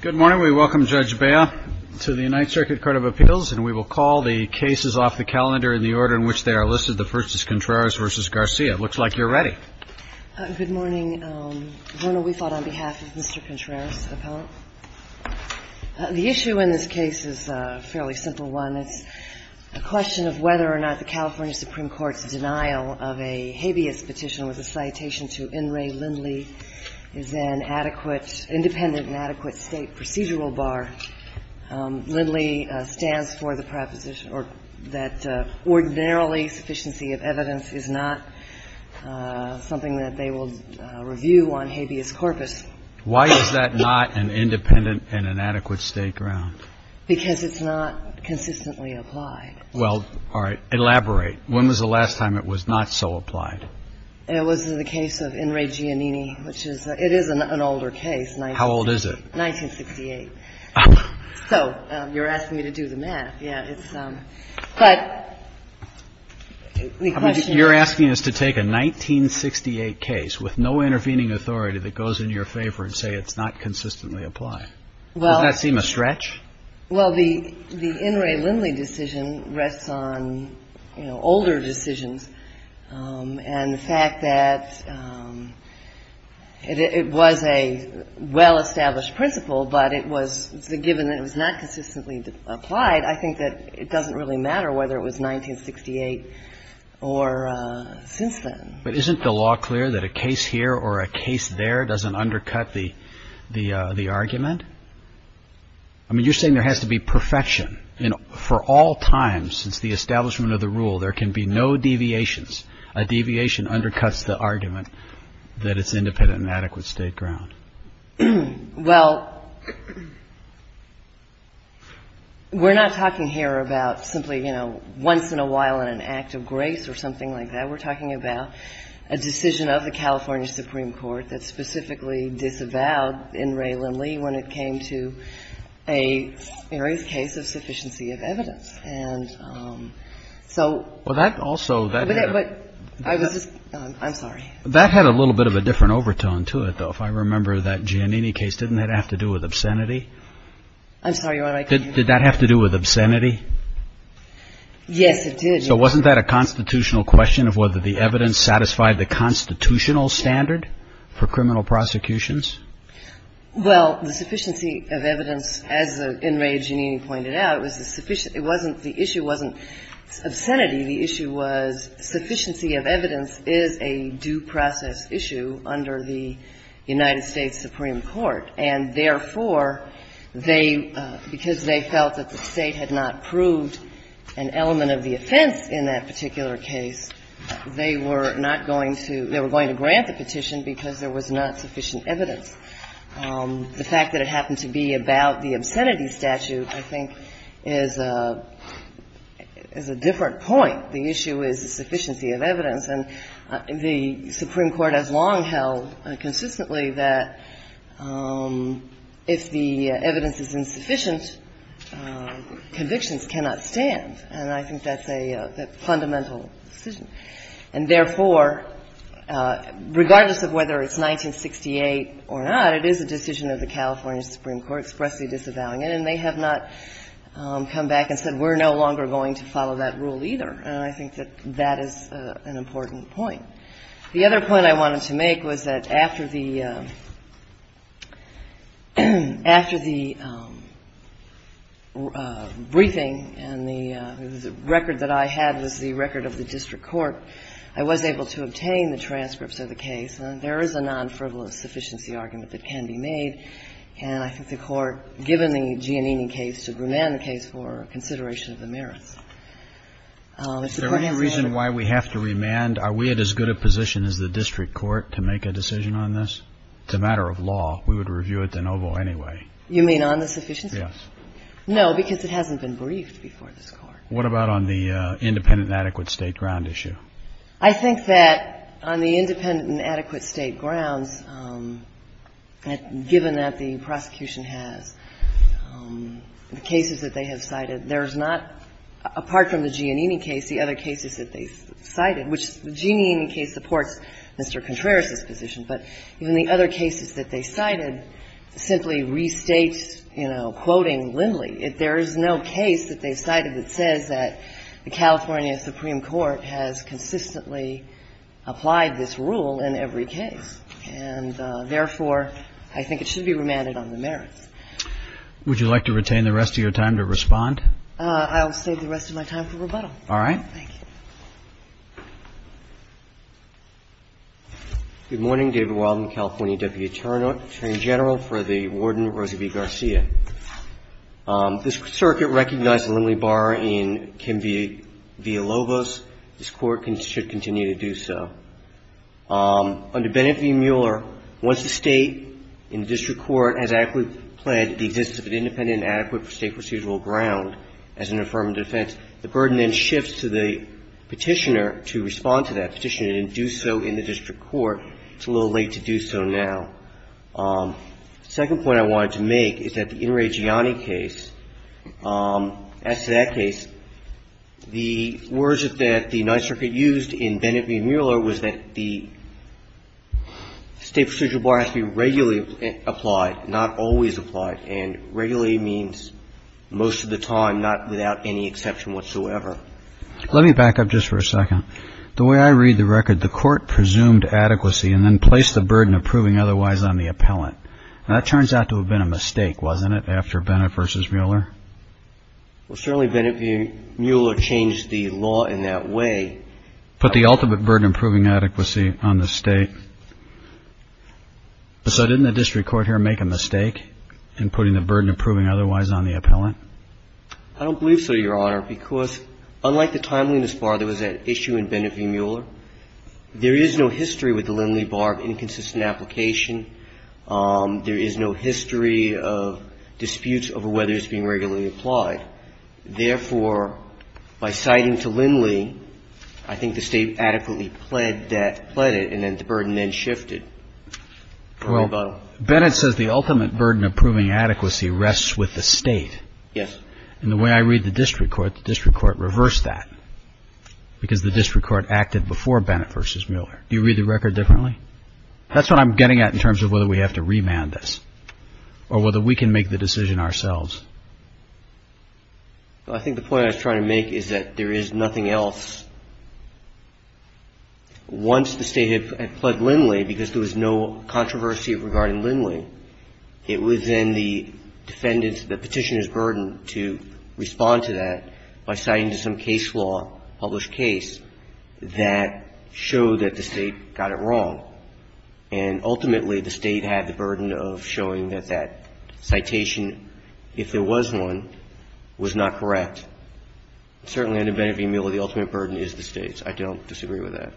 Good morning. We welcome Judge Bea to the United Circuit Court of Appeals, and we will call the cases off the calendar in the order in which they are listed. The first is Contreras v. Garcia. It looks like you're ready. Good morning. We thought on behalf of Mr. Contreras, the issue in this case is a fairly simple one. It's a question of whether or not the California Supreme Court's denial of a habeas petition with a citation to N. Ray Lindley is an adequate, independent and adequate State procedural bar. Lindley stands for the proposition that ordinarily sufficiency of evidence is not something that they will review on habeas corpus. Why is that not an independent and an adequate State ground? Because it's not consistently applied. Well, all right. Elaborate. When was the last time it was not so applied? It was in the case of N. Ray Giannini, which is it is an older case. How old is it? 1968. So you're asking me to do the math. Yeah. But you're asking us to take a 1968 case with no intervening authority that goes in your favor and say it's not consistently applied. Well, that seemed a stretch. Well, the the N. Ray Lindley decision rests on older decisions. And the fact that it was a well-established principle, but it was the given that it was not consistently applied. I think that it doesn't really matter whether it was 1968 or since then. But isn't the law clear that a case here or a case there doesn't undercut the the the argument? I mean, you're saying there has to be perfection for all time since the establishment of the rule. There can be no deviations. A deviation undercuts the argument that it's independent and adequate State ground. Well, we're not talking here about simply, you know, once in a while in an act of grace or something like that. We're talking about a decision of the California Supreme Court that specifically disavowed N. Ray Lindley when it came to a case of sufficiency of evidence. And so. Well, that also. I'm sorry. That had a little bit of a different overtone to it, though. If I remember that Giannini case, didn't that have to do with obscenity? I'm sorry. Did that have to do with obscenity? Yes, it did. So wasn't that a constitutional question of whether the evidence satisfied the constitutional standard for criminal prosecutions? Well, the sufficiency of evidence, as N. Ray Giannini pointed out, was the sufficient It wasn't, the issue wasn't obscenity. The issue was sufficiency of evidence is a due process issue under the United States Supreme Court. And therefore, they, because they felt that the State had not proved an element of the offense in that particular case, they were not going to they were going to grant the petition because there was not sufficient evidence. The fact that it happened to be about the obscenity statute, I think, is a different point. The issue is the sufficiency of evidence. And the Supreme Court has long held consistently that if the evidence is insufficient, convictions cannot stand. And I think that's a fundamental decision. And therefore, regardless of whether it's 1968 or not, it is a decision of the California Supreme Court expressly disavowing it. And they have not come back and said we're no longer going to follow that rule either. And I think that that is an important point. The other point I wanted to make was that after the, after the briefing and the record that I had was the record of the district court, I was able to obtain the transcripts of the case. There is a non-frivolous sufficiency argument that can be made. And I think the Court, given the Giannini case, should remand the case for consideration of the merits. Is there any reason why we have to remand? Are we at as good a position as the district court to make a decision on this? It's a matter of law. We would review it de novo anyway. You mean on the sufficiency? Yes. No, because it hasn't been briefed before this Court. What about on the independent and adequate State ground issue? I think that on the independent and adequate State grounds, given that the prosecution has cases that they have cited, there's not, apart from the Giannini case, the other cases that they cited, which the Giannini case supports Mr. Contreras's position, but even the other cases that they cited simply restate, you know, quoting Lindley, there is no case that they cited that says that the California Supreme Court has consistently applied this rule in every case. And therefore, I think it should be remanded on the merits. Would you like to retain the rest of your time to respond? I'll save the rest of my time for rebuttal. All right. Thank you. Good morning. David Wilden, California Deputy Attorney General for the Warden, Rosie V. Garcia. This Circuit recognized Lindley Barr in Kim v. Villalobos. This Court should continue to do so. Under Bennet v. Mueller, once the State in the district court has adequately pled the existence of an independent and adequate State procedural ground as an affirmative defense, the burden then shifts to the Petitioner to respond to that Petitioner and do so in the district court. It's a little late to do so now. The second point I wanted to make is that the In re Gianni case, as to that case, the words that the Ninth Circuit used in Bennet v. Mueller was that the State procedural bar has to be regularly applied, not always applied. And regularly means most of the time, not without any exception whatsoever. Let me back up just for a second. The way I read the record, the Court presumed adequacy and then placed the burden of proving otherwise on the appellant. That turns out to have been a mistake, wasn't it, after Bennet v. Mueller? Well, certainly Bennet v. Mueller changed the law in that way. Put the ultimate burden of proving adequacy on the State. So didn't the district court here make a mistake in putting the burden of proving otherwise on the appellant? I don't believe so, Your Honor, because unlike the timeliness bar, there was an issue in Bennet v. Mueller. There is no history with the Lindley bar of inconsistent application. There is no history of disputes over whether it's being regularly applied. Therefore, by citing to Lindley, I think the State adequately pled that, pled it, and then the burden then shifted. Well, Bennet says the ultimate burden of proving adequacy rests with the State. Yes. And the way I read the district court, the district court reversed that because the district court acted before Bennet v. Mueller. Do you read the record differently? That's what I'm getting at in terms of whether we have to remand this or whether we can make the decision ourselves. Well, I think the point I was trying to make is that there is nothing else. Once the State had pled Lindley, because there was no controversy regarding Lindley, it was then the defendant's, the petitioner's burden to respond to that by citing to some case that showed that the State got it wrong. And ultimately, the State had the burden of showing that that citation, if there was one, was not correct. Certainly under Bennet v. Mueller, the ultimate burden is the State's. I don't disagree with that.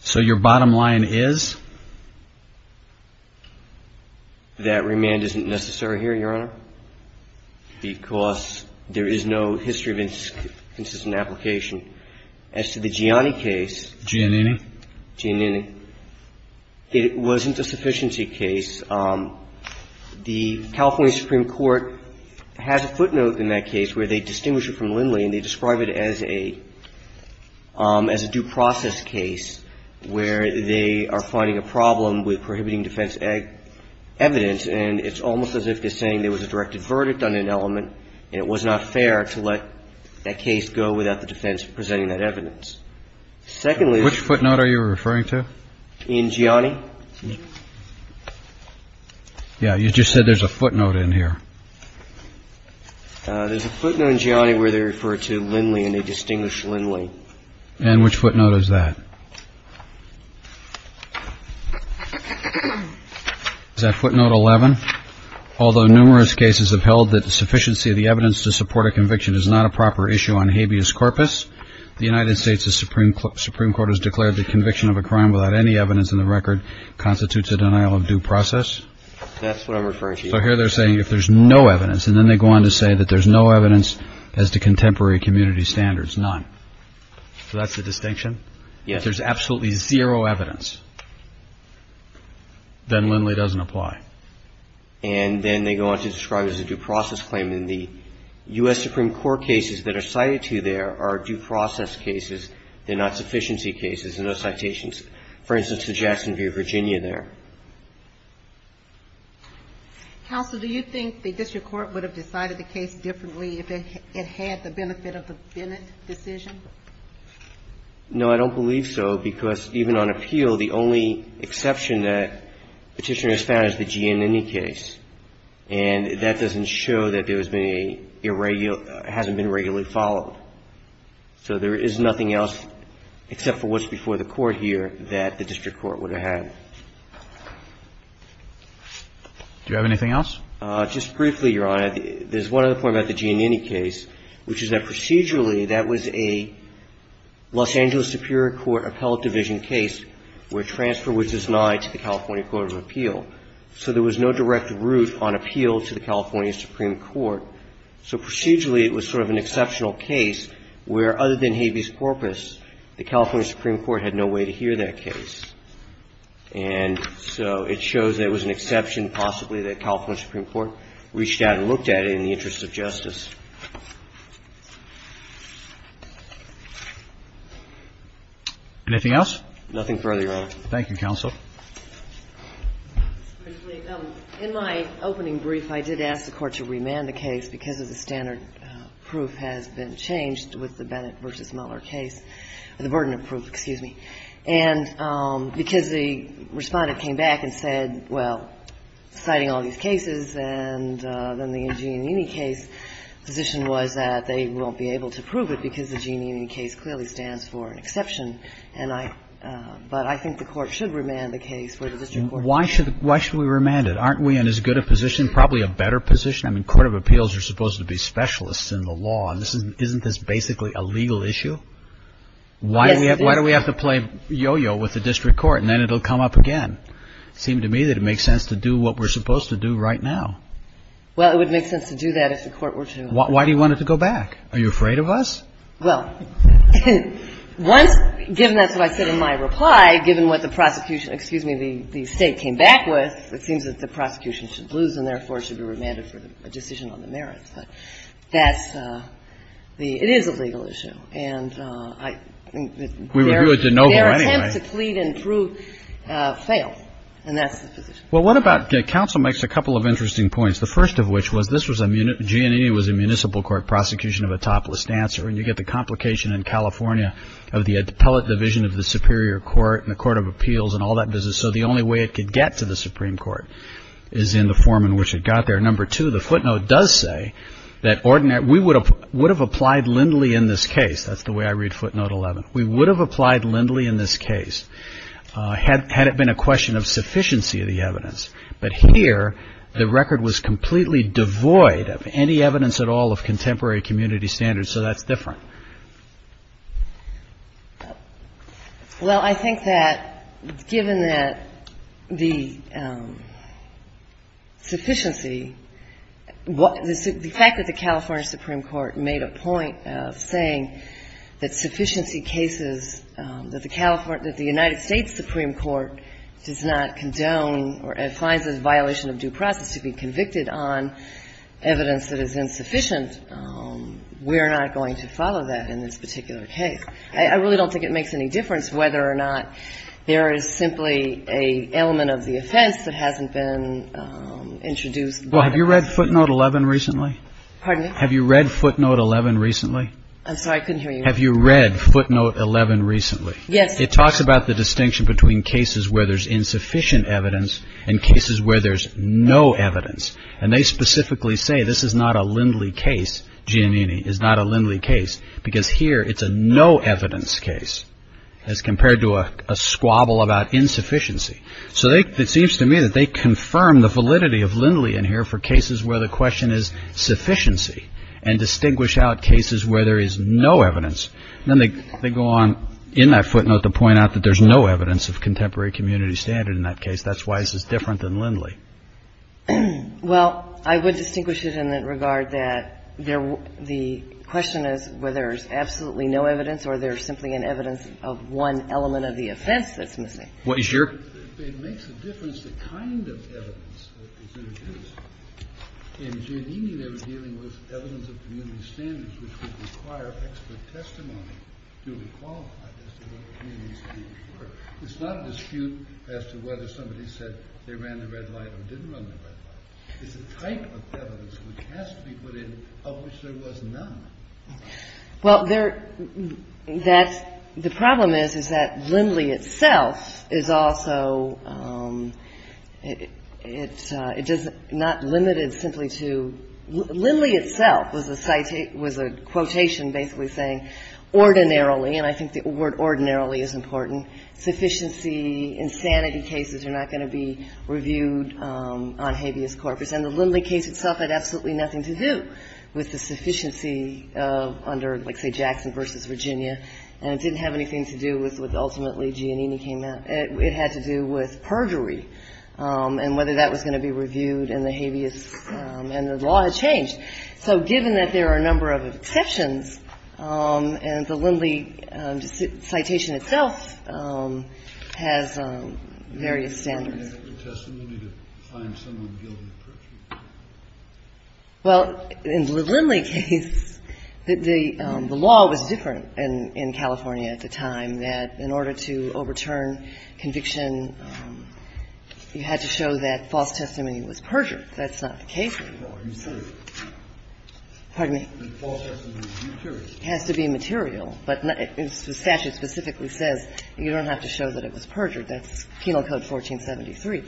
So your bottom line is? That remand isn't necessary here, Your Honor, because there is no history of inconsistent application. As to the Gianni case. Giannini. Giannini. It wasn't a sufficiency case. The California Supreme Court has a footnote in that case where they distinguish it from Lindley, and they describe it as a due process case where they are finding a problem with prohibiting defense evidence, and it's almost as if they're saying there was a directed verdict on an element, and it was not fair to let that case go without the defense presenting that evidence. Secondly. Which footnote are you referring to? In Gianni. Yeah, you just said there's a footnote in here. There's a footnote in Gianni where they refer to Lindley, and they distinguish Lindley. And which footnote is that? Is that footnote 11? Although numerous cases have held that the sufficiency of the evidence to support a conviction is not a proper issue on habeas corpus, the United States Supreme Court has declared that conviction of a crime without any evidence in the record constitutes a denial of due process. That's what I'm referring to. So here they're saying if there's no evidence, and then they go on to say that there's no evidence as to contemporary community standards, none. So that's the distinction? Yes. If there's absolutely zero evidence, then Lindley doesn't apply. And then they go on to describe it as a due process claim. And the U.S. Supreme Court cases that are cited to you there are due process cases. They're not sufficiency cases. There are no citations. For instance, the Jacksonville, Virginia there. Counsel, do you think the district court would have decided the case differently if it had the benefit of the Bennett decision? No, I don't believe so, because even on appeal, the only exception that Petitioner has found is the Giannini case. And that doesn't show that there has been a irregular or hasn't been regularly followed. So there is nothing else except for what's before the court here that the district court would have had. Do you have anything else? Just briefly, Your Honor. There's one other point about the Giannini case, which is that procedurally that was a Los Angeles Superior Court appellate division case where transfer was denied to the California Court of Appeal. So there was no direct route on appeal to the California Supreme Court. So procedurally, it was sort of an exceptional case where, other than habeas corpus, the California Supreme Court had no way to hear that case. And so it shows that it was an exception, possibly, that the California Supreme Court reached out and looked at it in the interest of justice. Anything else? Nothing further, Your Honor. Thank you, counsel. In my opening brief, I did ask the Court to remand the case because the standard proof has been changed with the Bennett v. Mueller case, the burden of proof, excuse me, and because the Respondent came back and said, well, citing all these cases and then the Giannini case, the position was that they won't be able to prove it because the Giannini case clearly stands for an exception. But I think the Court should remand the case for the district court. Why should we remand it? Aren't we in as good a position, probably a better position? I mean, court of appeals are supposed to be specialists in the law. Isn't this basically a legal issue? Why do we have to play yo-yo with the district court and then it will come up again? It seemed to me that it makes sense to do what we're supposed to do right now. Well, it would make sense to do that if the Court were to go back. Why do you want it to go back? Are you afraid of us? Well, once, given that's what I said in my reply, given what the prosecution excuse me, the State came back with, it seems that the prosecution should lose and therefore should be remanded for a decision on the merits. But that's the it is a legal issue. And I think that their attempt to plead and prove failed. And that's the position. Well, what about the counsel makes a couple of interesting points. The first of which was this was a GNE was a municipal court prosecution of a topless dancer. And you get the complication in California of the appellate division of the superior court and the court of appeals and all that business. So the only way it could get to the Supreme Court is in the form in which it got there. And then the second point that I would make, and I think it's important to make, is that on page 18, in paragraph number 2, the footnote does say that we would have applied Lindley in this case. That's the way I read footnote 11. We would have applied Lindley in this case had it been a question of sufficiency of the evidence. But here the record was completely devoid of any evidence at all of contemporary community standards. So that's different. Well, I think that given that the sufficiency, the fact that the California Supreme Court made a point of saying that sufficiency cases, that the United States Supreme Court does not condone or finds it a violation of due process to be convicted on evidence that is insufficient, we're not going to follow that in this particular case. I really don't think it makes any difference whether or not there is simply an element of the offense that hasn't been introduced. Well, have you read footnote 11 recently? Pardon me? Have you read footnote 11 recently? I'm sorry, I couldn't hear you. Have you read footnote 11 recently? Yes. It talks about the distinction between cases where there's insufficient evidence and cases where there's no evidence. And they specifically say this is not a Lindley case, Giannini, is not a Lindley case because here it's a no evidence case as compared to a squabble about insufficiency. So it seems to me that they confirm the validity of Lindley in here for cases where the question is sufficiency and distinguish out cases where there is no evidence. Then they go on in that footnote to point out that there's no evidence of contemporary community standard in that case. That's why this is different than Lindley. Well, I would distinguish it in the regard that the question is whether there's absolutely no evidence or there's simply an evidence of one element of the offense that's missing. What is your? It makes a difference the kind of evidence that is introduced. In Giannini, they were dealing with evidence of community standards which would require expert testimony to be qualified as to what the community standards were. It's not a dispute as to whether somebody said they ran the red light or didn't run the red light. It's a type of evidence which has to be put in of which there was none. Well, there, that's, the problem is, is that Lindley itself is also, it's, it does not limit it simply to, Lindley itself was a citation, was a quotation basically saying ordinarily, and I think the word ordinarily is important, sufficiency insanity cases are not going to be reviewed on habeas corpus. And the Lindley case itself had absolutely nothing to do with the sufficiency under, let's say, Jackson v. Virginia, and it didn't have anything to do with ultimately Giannini came out. It had to do with perjury and whether that was going to be reviewed and the habeas and the law had changed. So given that there are a number of exceptions, and the Lindley citation itself has various standards. Well, in the Lindley case, the law was different in California at the time that in order to overturn conviction, you had to show that false testimony was perjured. That's not the case anymore. It has to be material. But the statute specifically says you don't have to show that it was perjured. That's Penal Code 1473.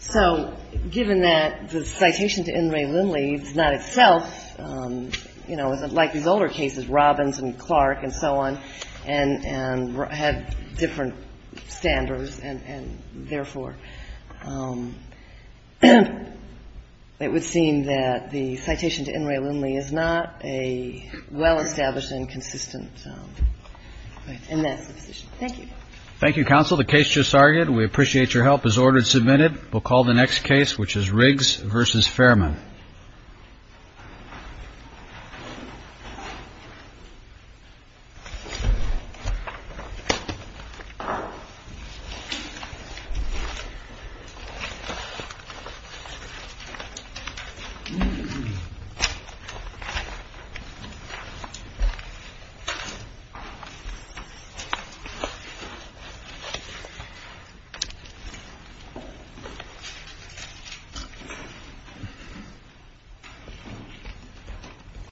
So given that the citation to N. Ray Lindley is not itself, you know, like these older cases, Robbins and Clark and so on, and had different standards, and therefore it would seem that the citation to N. Ray Lindley is not a well-established and consistent. And that's the position. Thank you. Thank you, counsel. The case just argued. We appreciate your help. It was ordered and submitted. We'll call the next case, which is Riggs v. Fairman. Thank you. Thank you.